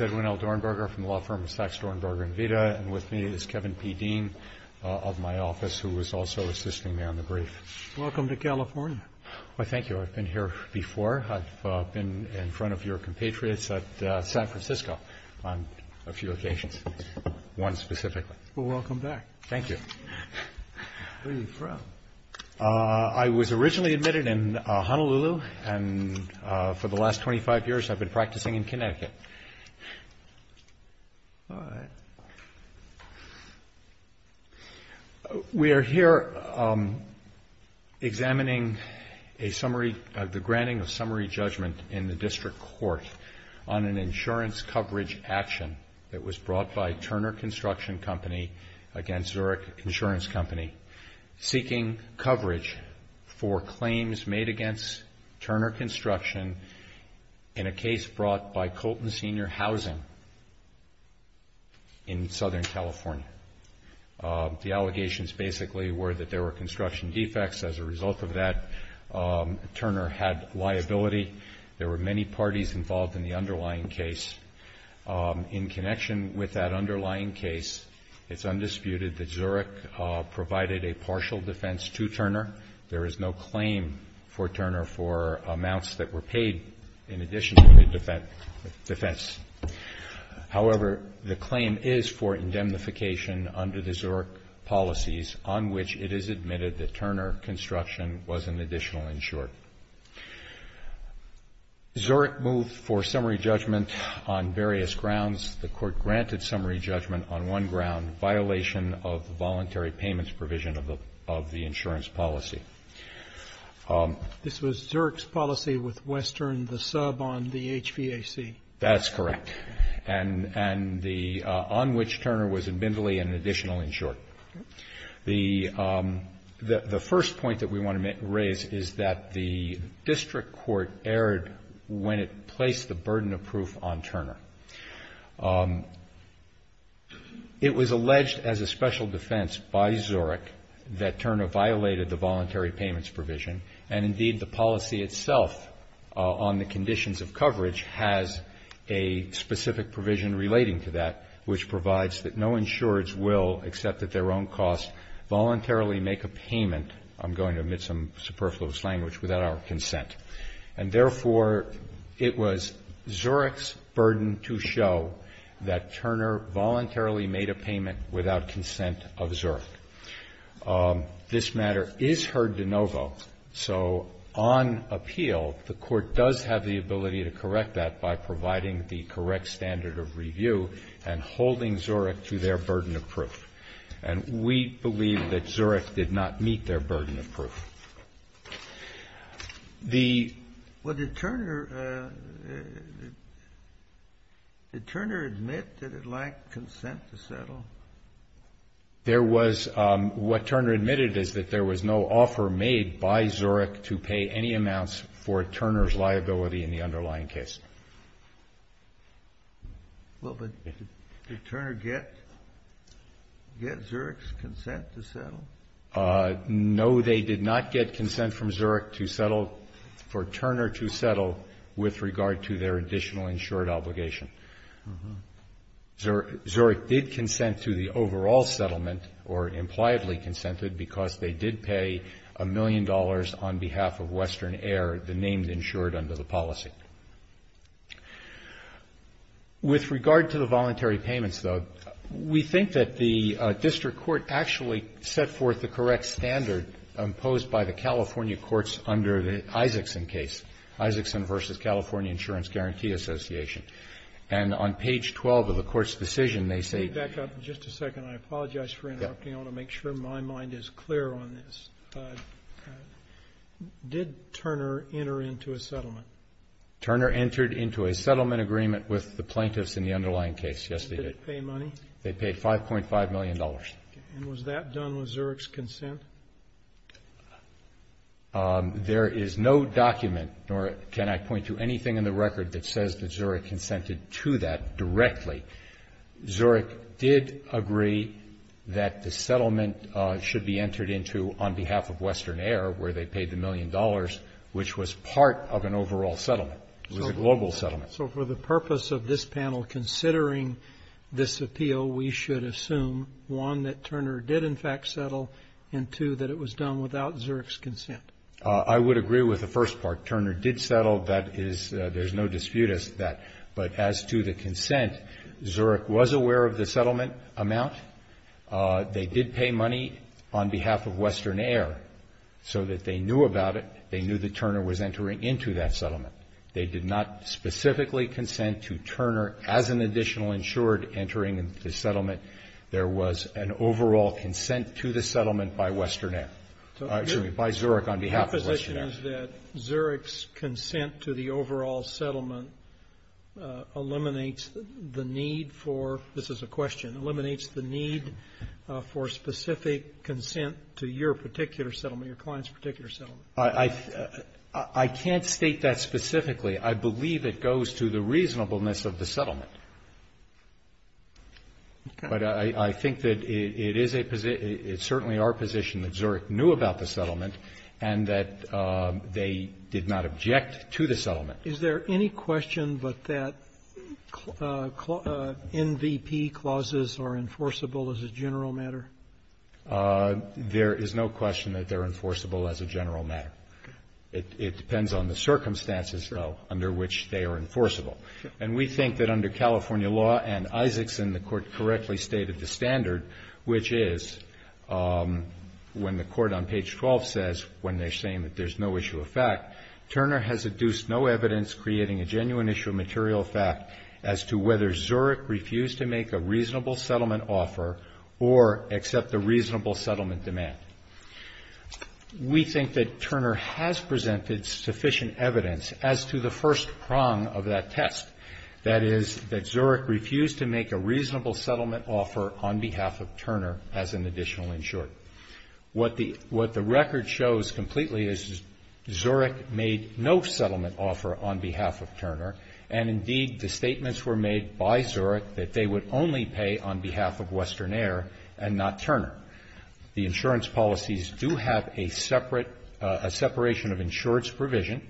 Edwin L. Dornberger, Law Firm of Sachs, Dornberger, and Vita, and with me is Kevin P. Dean of my office who is also assisting me on the brief. Welcome to California. Thank you. I've been here before. I've been in front of your compatriots at San Francisco on a few occasions, one specifically. Welcome back. Thank you. Where are you from? I was originally admitted in Honolulu, and for the last 25 years I've been practicing in Connecticut. We are here examining a summary, the granting of summary judgment in the district court on an insurance coverage action that was brought by Turner Construction Company against Zurich Insurance Company, seeking coverage for claims made against Turner Construction in a case brought by Colton Senior Housing in Southern California. The allegations basically were that there were construction defects. As a result of that, Turner had liability. There were many parties involved in the underlying case. In connection with that underlying case, it's undisputed that Zurich provided a partial defense to Turner. There is no claim for Turner for amounts that were paid in addition to the defense. However, the claim is for indemnification under the Zurich policies on which it is admitted that Turner Construction was an additional insurer. Zurich moved for summary judgment on various grounds. The court granted summary judgment on one ground, violation of the voluntary payments provision of the insurance policy. This was Zurich's policy with Western, the sub on the HVAC? That's correct. And the on which Turner was admittedly an additional insurer. The first point that we want to raise is that the district court erred when it placed the burden of proof on Turner. It was alleged as a special defense by Zurich that Turner violated the voluntary payments provision. And indeed, the policy itself on the conditions of coverage has a specific provision relating to that, which provides that no insurers will, except at their own cost, voluntarily make a payment. I'm going to omit some superfluous language, without our consent. And therefore, it was Zurich's burden to show that Turner voluntarily made a payment without consent of Zurich. This matter is heard de novo. So on appeal, the court does have the ability to correct that by providing the correct standard of review and holding Zurich to their burden of proof. And we believe that Zurich did not meet their burden of proof. The. Well, did Turner, did Turner admit that it lacked consent to settle? There was, what Turner admitted is that there was no offer made by Zurich to pay any amounts for Turner's liability in the underlying case. Well, but did Turner get, get Zurich's consent to settle? No, they did not get consent from Zurich to settle, for Turner to settle with regard to their additional insured obligation. Zurich did consent to the overall settlement, or impliedly consented, because they did pay a million dollars on behalf of Western Air, the name insured under the policy. With regard to the voluntary payments, though, we think that the district court actually set forth the correct standard imposed by the California courts under the Isaacson case. Isaacson versus California Insurance Guarantee Association. And on page 12 of the court's decision, they say. Let me back up just a second. I apologize for interrupting. I want to make sure my mind is clear on this. Did Turner enter into a settlement? Turner entered into a settlement agreement with the plaintiffs in the underlying case. Yes, they did. Did they pay money? They paid $5.5 million. And was that done with Zurich's consent? There is no document, nor can I point to anything in the record that says that Zurich consented to that directly. Zurich did agree that the settlement should be entered into on behalf of Western Air, where they paid the million dollars, which was part of an overall settlement. It was a global settlement. So for the purpose of this panel, considering this appeal, we should assume, one, that Turner did in fact settle, and two, that it was done without Zurich's consent. I would agree with the first part. Turner did settle. That is, there's no dispute as to that. But as to the consent, Zurich was aware of the settlement amount. They did pay money on behalf of Western Air. So that they knew about it. They knew that Turner was entering into that settlement. They did not specifically consent to Turner as an additional insured entering into the settlement. There was an overall consent to the settlement by Western Air, excuse me, by Zurich on behalf of Western Air. Your position is that Zurich's consent to the overall settlement eliminates the need for, this is a question, eliminates the need for specific consent to your particular settlement, your client's particular settlement? I can't state that specifically. I believe it goes to the reasonableness of the settlement. But I think that it is a, it's certainly our position that Zurich knew about the settlement and that they did not object to the settlement. Is there any question but that NVP clauses are enforceable as a general matter? There is no question that they're enforceable as a general matter. It depends on the circumstances, though, under which they are enforceable. And we think that under California law and Isaacson, the Court correctly stated the standard, which is when the Court on page 12 says, when they're saying that there's no issue of fact, Turner has adduced no evidence creating a genuine issue of material fact as to whether Zurich refused to make a reasonable settlement offer or accept the reasonable settlement demand. We think that Turner has presented sufficient evidence as to the first prong of that test. That is that Zurich refused to make a reasonable settlement offer on behalf of Turner as an additional insured. What the record shows completely is Zurich made no settlement offer on behalf of Turner. And indeed, the statements were made by Zurich that they would only pay on behalf of Western Air and not Turner. The insurance policies do have a separate, a separation of insureds provision.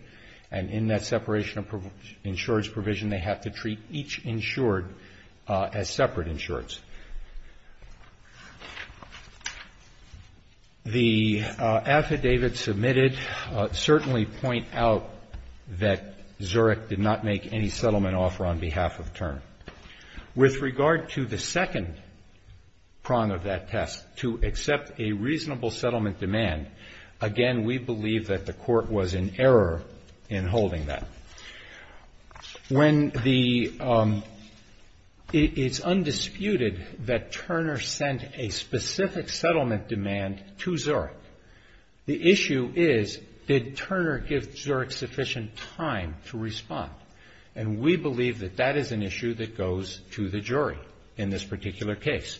And in that separation of insureds provision, they have to treat each insured as separate insureds. The affidavit submitted certainly point out that Zurich did not make any settlement offer on behalf of Turner. With regard to the second prong of that test, to accept a reasonable settlement demand, again, we believe that the Court was in error in holding that. When the, it's undisputed that Turner sent a specific settlement demand to Zurich. The issue is, did Turner give Zurich sufficient time to respond? And we believe that that is an issue that goes to the jury in this particular case.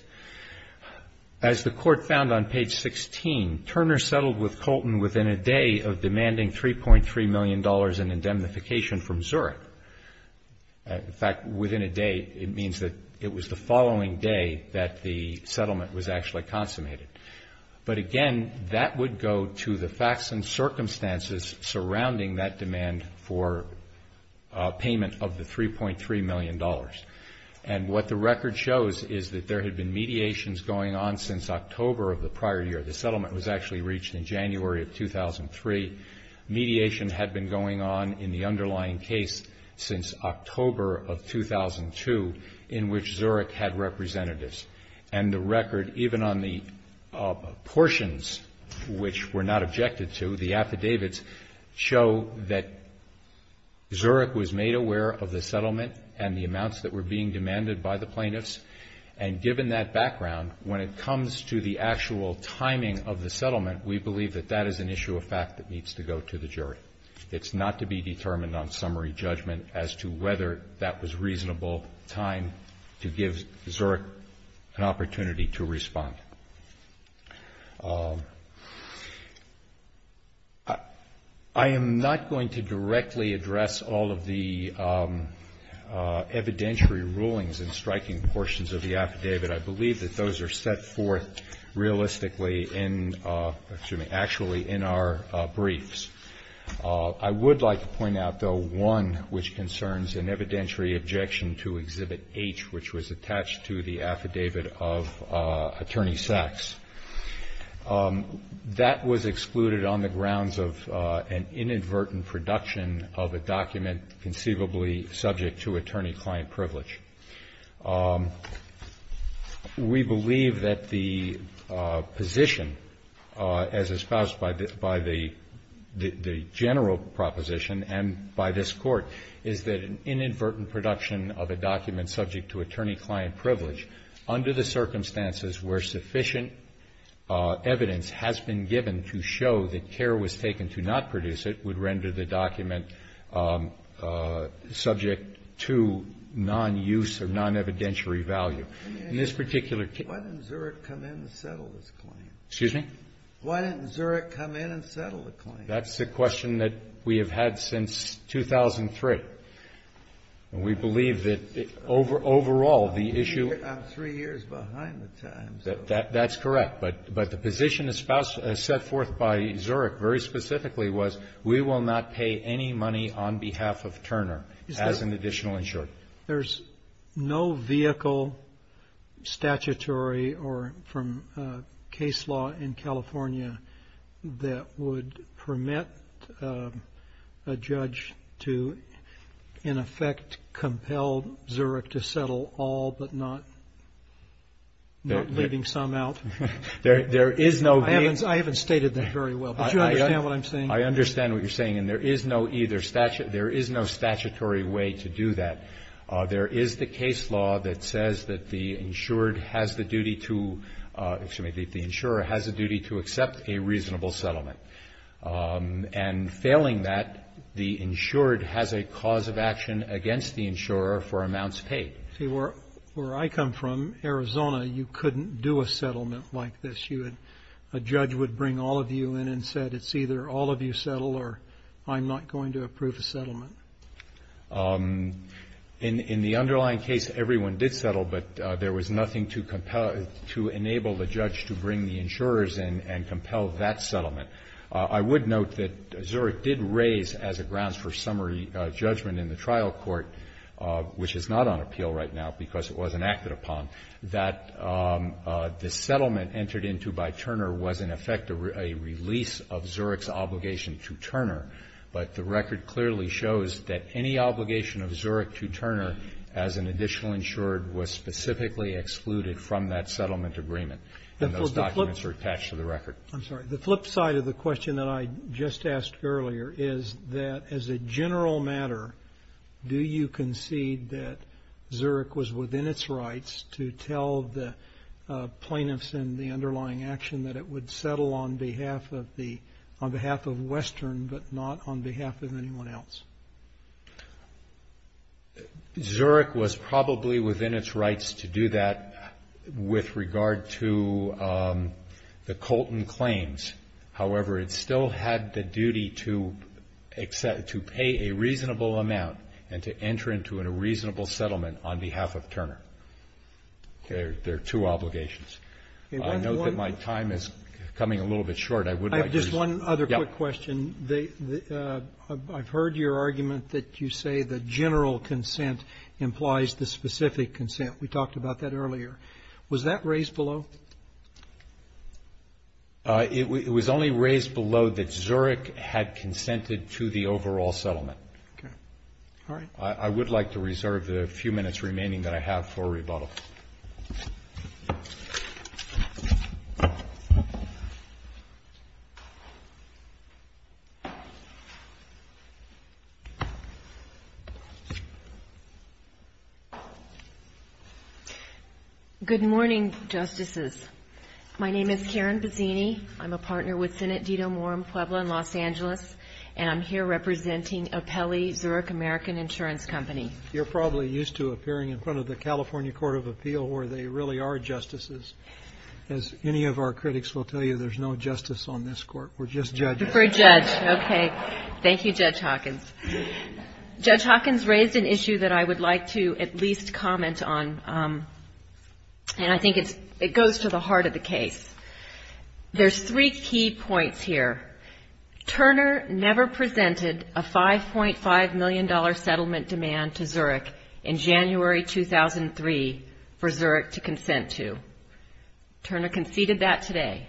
As the Court found on page 16, Turner settled with Colton within a day of demanding $3.3 million in indemnification from Zurich. In fact, within a day, it means that it was the following day that the settlement was actually consummated. But again, that would go to the facts and circumstances surrounding that demand for payment of the $3.3 million. And what the record shows is that there had been mediations going on since October of the prior year. The settlement was actually reached in January of 2003. Mediation had been going on in the underlying case since October of 2002, in which Zurich had representatives. And the record, even on the portions which were not objected to, the affidavits, show that Zurich was made aware of the settlement and the amounts that were being demanded by the plaintiffs. And given that background, when it comes to the actual timing of the settlement, we believe that that is an issue of fact that needs to go to the jury. It's not to be determined on summary judgment as to whether that was reasonable time to give Zurich an opportunity to respond. I am not going to directly address all of the evidentiary rulings and striking portions of the affidavit. I believe that those are set forth realistically in the actually in our briefs. I would like to point out, though, one which concerns an evidentiary objection to Exhibit H, which was attached to the affidavit of Attorney Sachs. That was excluded on the grounds of an inadvertent production of a document conceivably subject to attorney-client privilege. We believe that the position, as espoused by the general proposition and by this Court, is that an inadvertent production of a document subject to attorney-client privilege under the circumstances where sufficient evidence has been given to show that care was taken to not produce it would render the document subject to non-use or non-evidentiary value. In this particular case ---- Kennedy. Why didn't Zurich come in and settle this claim? Excuse me? Why didn't Zurich come in and settle the claim? That's a question that we have had since 2003. And we believe that overall the issue ---- I'm three years behind the time. That's correct. But the position set forth by Zurich very specifically was we will not pay any money on behalf of Turner as an additional insurer. There's no vehicle statutory or from case law in California that would permit a judge to in effect compel Zurich to settle all but not leaving some out. There is no vehicle ---- I haven't stated that very well. But you understand what I'm saying? I understand what you're saying. And there is no either statute ---- there is no statutory way to do that. There is the case law that says that the insured has the duty to ---- excuse me, the insurer has the duty to accept a reasonable settlement. And failing that, the insured has a cause of action against the insurer for amounts paid. See, where I come from, Arizona, you couldn't do a settlement like this. You would ---- a judge would bring all of you in and said it's either all of you settle or I'm not going to approve a settlement. In the underlying case, everyone did settle, but there was nothing to compel ---- I would note that Zurich did raise as a grounds for summary judgment in the trial court, which is not on appeal right now because it wasn't acted upon, that the settlement entered into by Turner was in effect a release of Zurich's obligation to Turner. But the record clearly shows that any obligation of Zurich to Turner as an additional insured was specifically excluded from that settlement agreement. And those documents are attached to the record. I'm sorry, the flip side of the question that I just asked earlier is that as a general matter, do you concede that Zurich was within its rights to tell the plaintiffs in the underlying action that it would settle on behalf of the ---- on behalf of Western, but not on behalf of anyone else? Zurich was probably within its rights to do that with regard to the Colton claims. However, it still had the duty to pay a reasonable amount and to enter into a reasonable settlement on behalf of Turner. There are two obligations. I know that my time is coming a little bit short. I would like to use ---- that you say the general consent implies the specific consent. We talked about that earlier. Was that raised below? It was only raised below that Zurich had consented to the overall settlement. Okay. All right. I would like to reserve the few minutes remaining that I have for rebuttal. Good morning, Justices. My name is Karen Bozzini. I'm a partner with Senate Dito Moore in Puebla in Los Angeles, and I'm here representing Apelli Zurich American Insurance Company. You're probably used to appearing in front of the California Court of Appeal, where they really are justices. As any of our critics will tell you, there's no justice on this Court. We're just judges. For a judge. Okay. Thank you, Judge Hawkins. Judge Hawkins raised an issue that I would like to at least comment on, and I think it goes to the heart of the case. There's three key points here. Turner never presented a $5.5 million settlement demand to Zurich in January 2003 for Zurich to consent to. Turner conceded that today.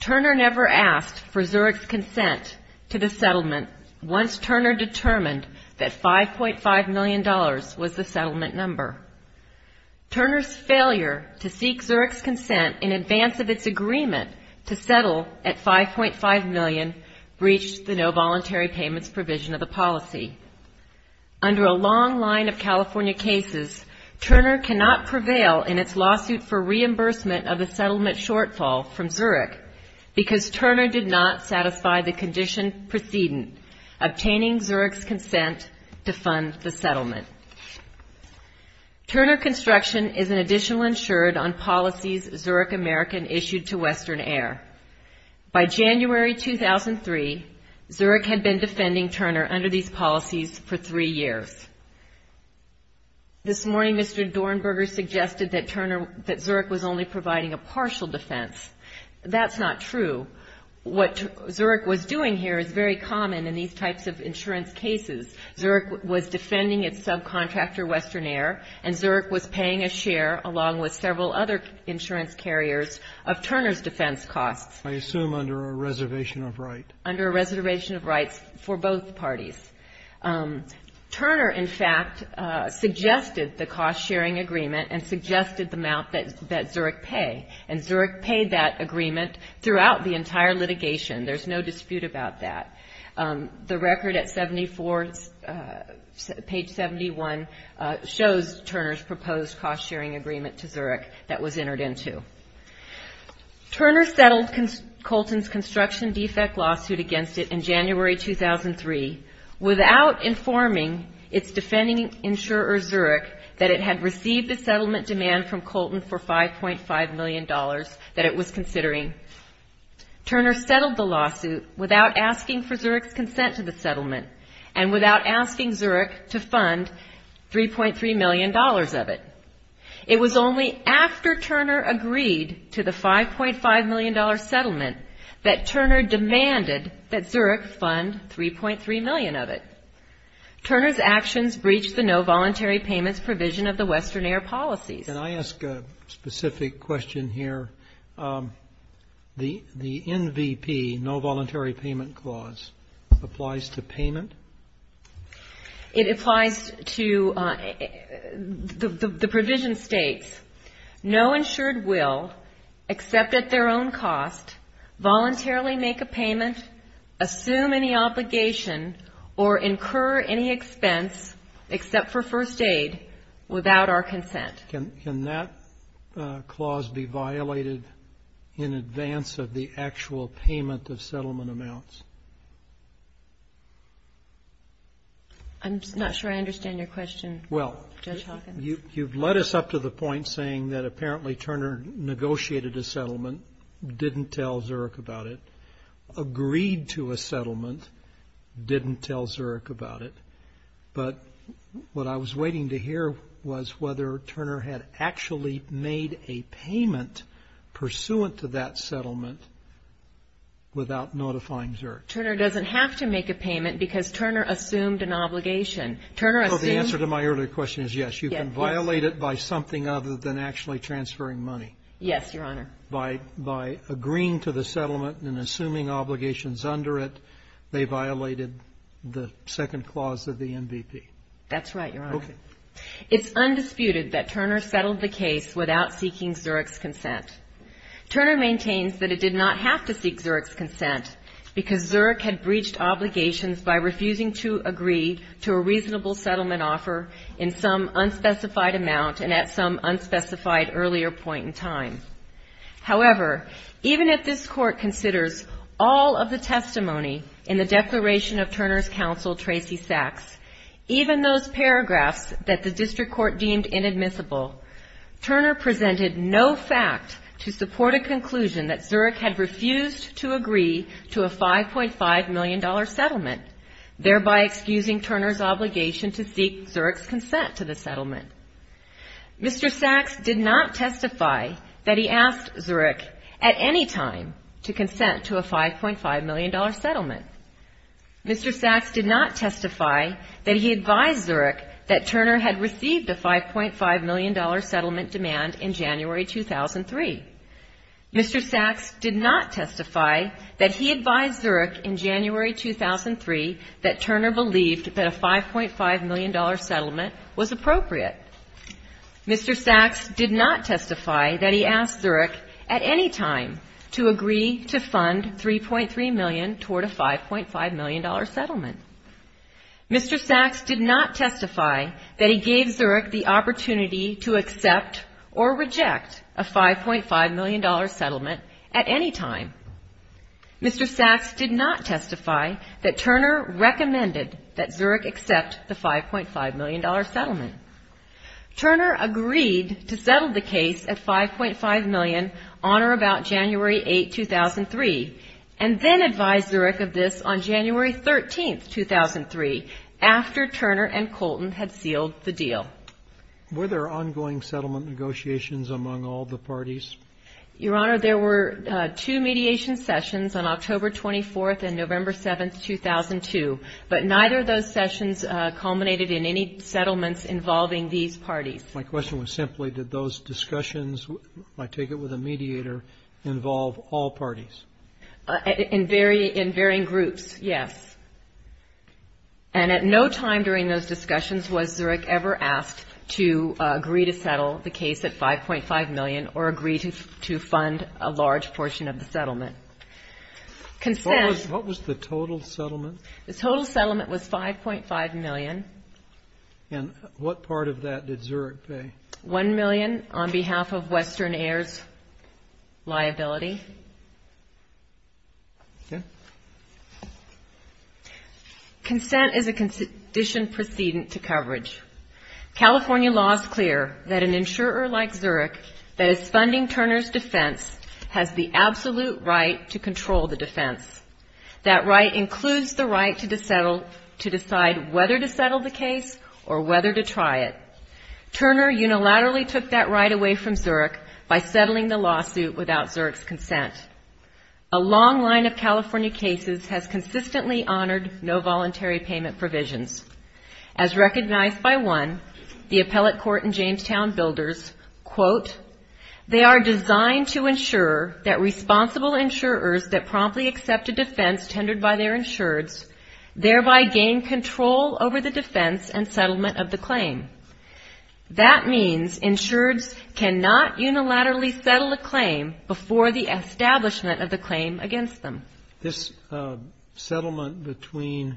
Turner never asked for Zurich's consent to the settlement once Turner determined that $5.5 million was the settlement number. Turner's failure to seek Zurich's consent in advance of its agreement to settle at $5.5 million breached the no voluntary payments provision of the policy. Under a long line of California cases, Turner cannot prevail in its lawsuit for reimbursement of a settlement shortfall from Zurich because Turner did not satisfy the condition precedent obtaining Zurich's consent to fund the settlement. Turner construction is an additional insured on policies Zurich American issued to Western Air. By January 2003, Zurich had been defending Turner under these policies for three years. This morning, Mr. Dornberger suggested that Zurich was only providing a partial defense. That's not true. What Zurich was doing here is very common in these types of insurance cases. Zurich was defending its subcontractor, Western Air, and Zurich was paying a share along with several other insurance carriers of Turner's defense costs. I assume under a reservation of rights. Under a reservation of rights for both parties. Turner in fact suggested the cost sharing agreement and suggested the amount that Zurich paid. And Zurich paid that agreement throughout the entire litigation. There's no dispute about that. The record at 74, page 71, shows Turner's proposed cost sharing agreement to Zurich that was entered into. Turner settled Colton's construction defect lawsuit against it in January 2003 without informing its defending insurer Zurich that it had received the settlement demand from $5.5 million that it was considering. Turner settled the lawsuit without asking for Zurich's consent to the settlement and without asking Zurich to fund $3.3 million of it. It was only after Turner agreed to the $5.5 million settlement that Turner demanded that Zurich fund $3.3 million of it. Turner's actions breached the no voluntary payments provision of the Western Air policies. Can I ask a specific question here? The NVP, no voluntary payment clause, applies to payment? It applies to the provision states, no insured will, except at their own cost, voluntarily make a payment, assume any obligation, or incur any expense except for first aid without our consent. Can that clause be violated in advance of the actual payment of settlement amounts? I'm not sure I understand your question, Judge Hawkins. You've led us up to the point saying that apparently Turner negotiated a settlement, didn't tell Zurich about it, agreed to a settlement, didn't tell Zurich about it, but what I was told was that Turner had actually made a payment pursuant to that settlement without notifying Zurich. Turner doesn't have to make a payment because Turner assumed an obligation. The answer to my earlier question is yes, you can violate it by something other than actually transferring money. Yes, Your Honor. By agreeing to the settlement and assuming obligations under it, they violated the second clause of the NVP. That's right, Your Honor. It's undisputed that Turner settled the case without seeking Zurich's consent. Turner maintains that it did not have to seek Zurich's consent because Zurich had breached obligations by refusing to agree to a reasonable settlement offer in some unspecified amount and at some unspecified earlier point in time. However, even if this Court considers all of the testimony in the Declaration of Turner's counsel, Tracey Sachs, even those paragraphs that the District Court deemed inadmissible, Turner presented no fact to support a conclusion that Zurich had refused to agree to a $5.5 million settlement, thereby excusing Turner's obligation to seek Zurich's consent to the settlement. Mr. Sachs did not testify that he asked Zurich at any time to consent to a $5.5 million settlement. Mr. Sachs did not testify that he advised Zurich that Turner had received a $5.5 million settlement demand in January 2003. Mr. Sachs did not testify that he advised Zurich in January 2003 that Turner believed that a $5.5 million settlement was appropriate. Mr. Sachs did not testify that he asked Zurich at any time to agree to fund $3.3 million toward a $5.5 million settlement. Mr. Sachs did not testify that he gave Zurich the opportunity to accept or reject a $5.5 million settlement at any time. Mr. Sachs did not testify that Turner recommended that Zurich accept the $5.5 million settlement. Turner agreed to settle the case at $5.5 million on or about January 8, 2003, and then advised Zurich of this on January 13, 2003, after Turner and Colton had sealed the deal. Were there ongoing settlement negotiations among all the parties? Your Honor, there were two mediation sessions on October 24th and November 7th, 2002, but My question was simply, did those discussions, if I take it with a mediator, involve all parties? In varying groups, yes. And at no time during those discussions was Zurich ever asked to agree to settle the case at $5.5 million or agree to fund a large portion of the settlement. What was the total settlement? The total settlement was $5.5 million. And what part of that did Zurich pay? $1 million on behalf of Western Air's liability. Okay. Consent is a condition precedent to coverage. California law is clear that an insurer like Zurich that is funding Turner's defense has the absolute right to control the defense. That right includes the right to decide whether to settle the case or whether to try it. Turner unilaterally took that right away from Zurich by settling the lawsuit without Zurich's consent. A long line of California cases has consistently honored no voluntary payment provisions. As recognized by one, the appellate court in Jamestown builders, quote, they are designed to ensure that responsible insurers that promptly accept a defense tendered by their insureds thereby gain control over the defense and settlement of the claim. That means insureds cannot unilaterally settle a claim before the establishment of the claim against them. This settlement between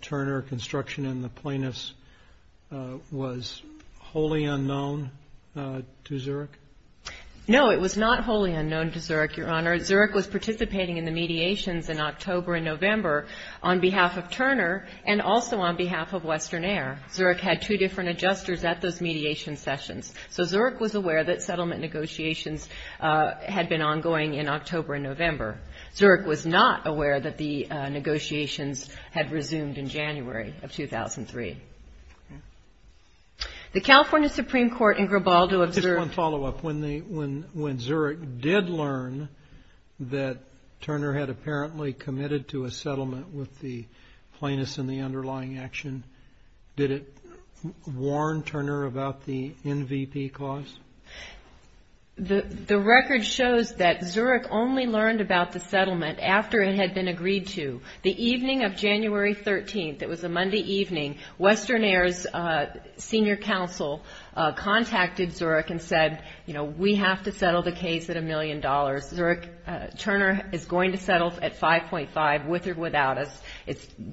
Turner Construction and the plaintiffs was wholly unknown to Zurich? No, it was not wholly unknown to Zurich, Your Honor. Zurich was participating in the mediations in October and November on behalf of Turner and also on behalf of Western Air. Zurich had two different adjusters at those mediation sessions. So Zurich was aware that settlement negotiations had been ongoing in October and November. Zurich was not aware that the negotiations had resumed in January of 2003. The California Supreme Court in Grabaldo observed? Just one follow-up. When Zurich did learn that Turner had apparently committed to a settlement with the plaintiffs and the underlying action, did it warn Turner about the NVP clause? The record shows that Zurich only learned about the settlement after it had been agreed to. The evening of January 13th, it was a Monday evening, Western Air's senior counsel contacted Zurich and said, you know, we have to settle the case at a million dollars. Zurich, Turner is going to settle at 5.5, with or without us.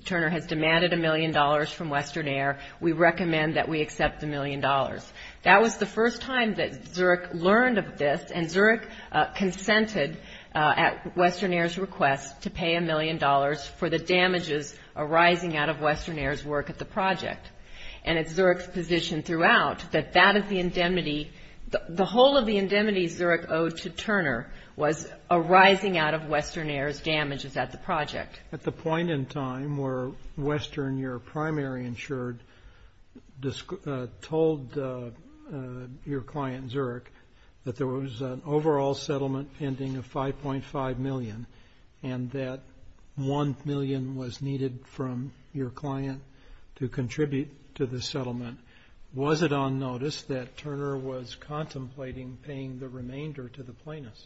Turner has demanded a million dollars from Western Air. We recommend that we accept the million dollars. That was the first time that Zurich learned of this, and Zurich consented at Western Air's request to pay a million dollars for the damages arising out of Western Air's work at the project. And it's Zurich's position throughout that that is the indemnity, the whole of the indemnity Zurich owed to Turner was arising out of Western Air's damages at the project. At the point in time where Western, your primary insured, told your client Zurich that there was an overall settlement pending of 5.5 million and that one million was needed from your client to contribute to the settlement, was it on notice that Turner was contemplating paying the remainder to the plaintiffs?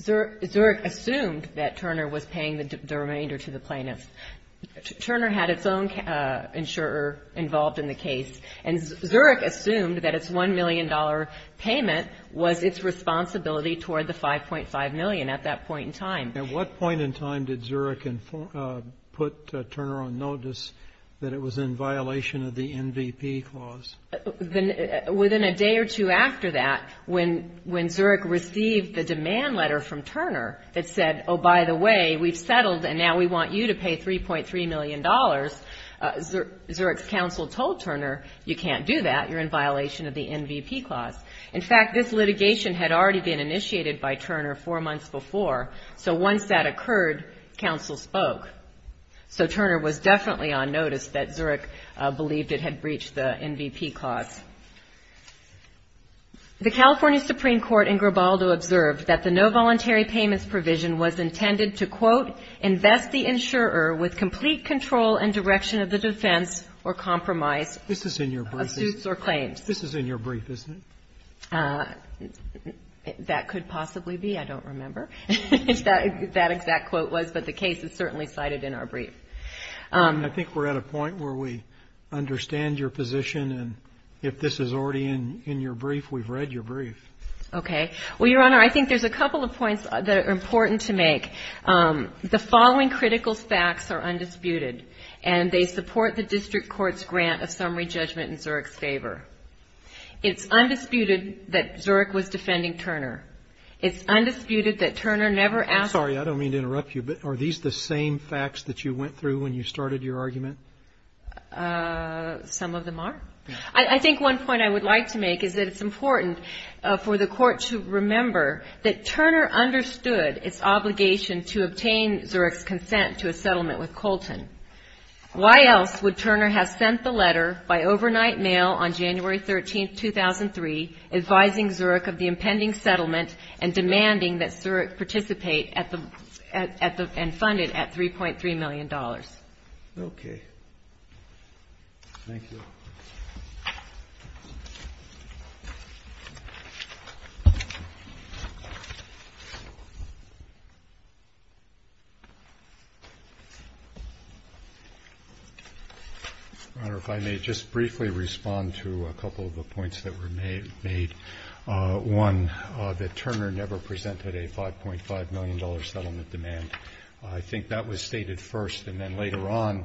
Zurich assumed that Turner was paying the remainder to the plaintiffs. Turner had its own insurer involved in the case, and Zurich assumed that its $1 million payment was its responsibility toward the 5.5 million at that point in time. At what point in time did Zurich put Turner on notice that it was in violation of the NVP clause? Within a day or two after that, when Zurich received the demand letter from Turner that said, oh, by the way, we've settled and now we want you to pay $3.3 million, Zurich's counsel told Turner you can't do that, you're in violation of the NVP clause. In fact, this litigation had already been initiated by Turner four months before. So once that occurred, counsel spoke. So Turner was definitely on notice that Zurich believed it had breached the NVP clause. The California Supreme Court in Grabaldo observed that the no voluntary payments provision was intended to, quote, invest the insurer with complete control and direction of the defense or compromise of suits or claims. This is in your brief, isn't it? That could possibly be. I don't remember if that exact quote was. But the case is certainly cited in our brief. I think we're at a point where we understand your position. And if this is already in your brief, we've read your brief. Okay. Well, Your Honor, I think there's a couple of points that are important to make. The following critical facts are undisputed. And they support the district court's grant of summary judgment in Zurich's favor. It's undisputed that Zurich was defending Turner. It's undisputed that Turner never asked the court. I'm sorry. I don't mean to interrupt you. But are these the same facts that you went through when you started your argument? Some of them are. I think one point I would like to make is that it's important for the Court to remember that Turner understood its obligation to obtain Zurich's consent to a settlement with Colton. Why else would Turner have sent the letter by overnight mail on January 13, 2003, advising Zurich of the impending settlement and demanding that Zurich participate and fund it at $3.3 million? Okay. Thank you. Your Honor, if I may just briefly respond to a couple of the points that were made. One, that Turner never presented a $5.5 million settlement demand. I think that was stated first. And then later on,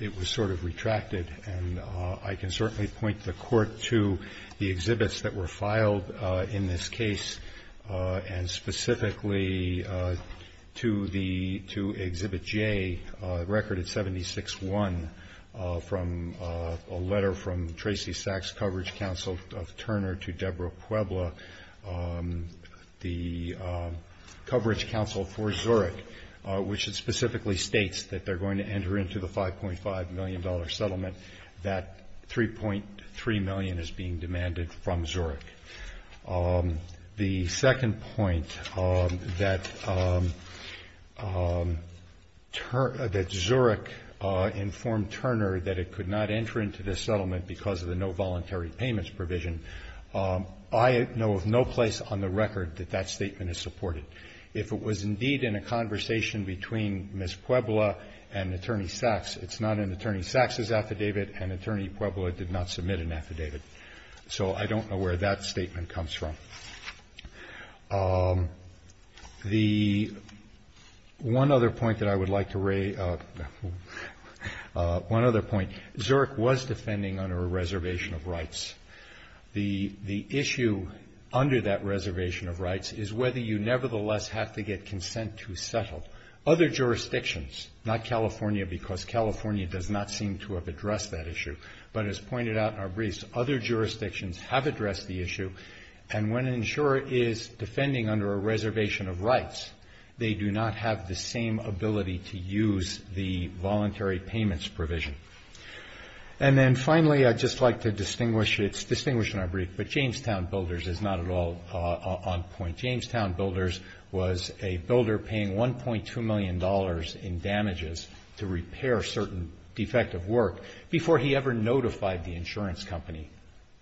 it was sort of retracted. And I can certainly point the Court to the exhibits that were filed in this case, and specifically to Exhibit J, Recorded 76-1, a letter from Tracy Sachs Coverage Counsel of Turner to Deborah Puebla, the coverage counsel for Zurich, which specifically states that they're going to enter into the $5.5 million settlement, that $3.3 million is being demanded from Zurich. The second point, that Zurich informed Turner that it could not enter into this settlement because of the no voluntary payments provision. I know of no place on the record that that statement is supported. If it was indeed in a conversation between Ms. Puebla and Attorney Sachs, it's not in Attorney Sachs's affidavit and Attorney Puebla did not submit an affidavit. So I don't know where that statement comes from. The one other point that I would like to raise, one other point. Zurich was defending under a reservation of rights. The issue under that reservation of rights is whether you nevertheless have to get consent to settle. Other jurisdictions, not California, because California does not seem to have addressed that issue, but as pointed out in our briefs, other jurisdictions have addressed the issue, and when an insurer is defending under a reservation of rights, they do not have the same ability to use the voluntary payments provision. And then finally, I'd just like to distinguish, it's distinguished in our brief, but Jamestown Builders is not at all on point. Jamestown Builders was a builder paying $1.2 million in damages to repair certain defective work before he ever notified the insurance company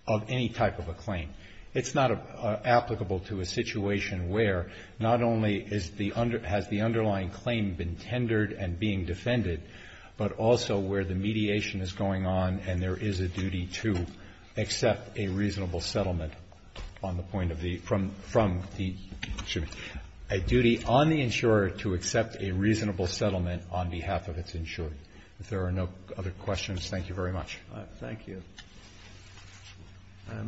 of any type of a claim. It's not applicable to a situation where not only has the underlying claim been tendered and being defended, but also where the mediation is going on and there is a duty to accept a reasonable settlement on the point of the, from the, excuse me, a duty on the insurer to accept a reasonable settlement on behalf of its insurer. If there are no other questions, thank you very much. Thank you. Are there any matters submitted?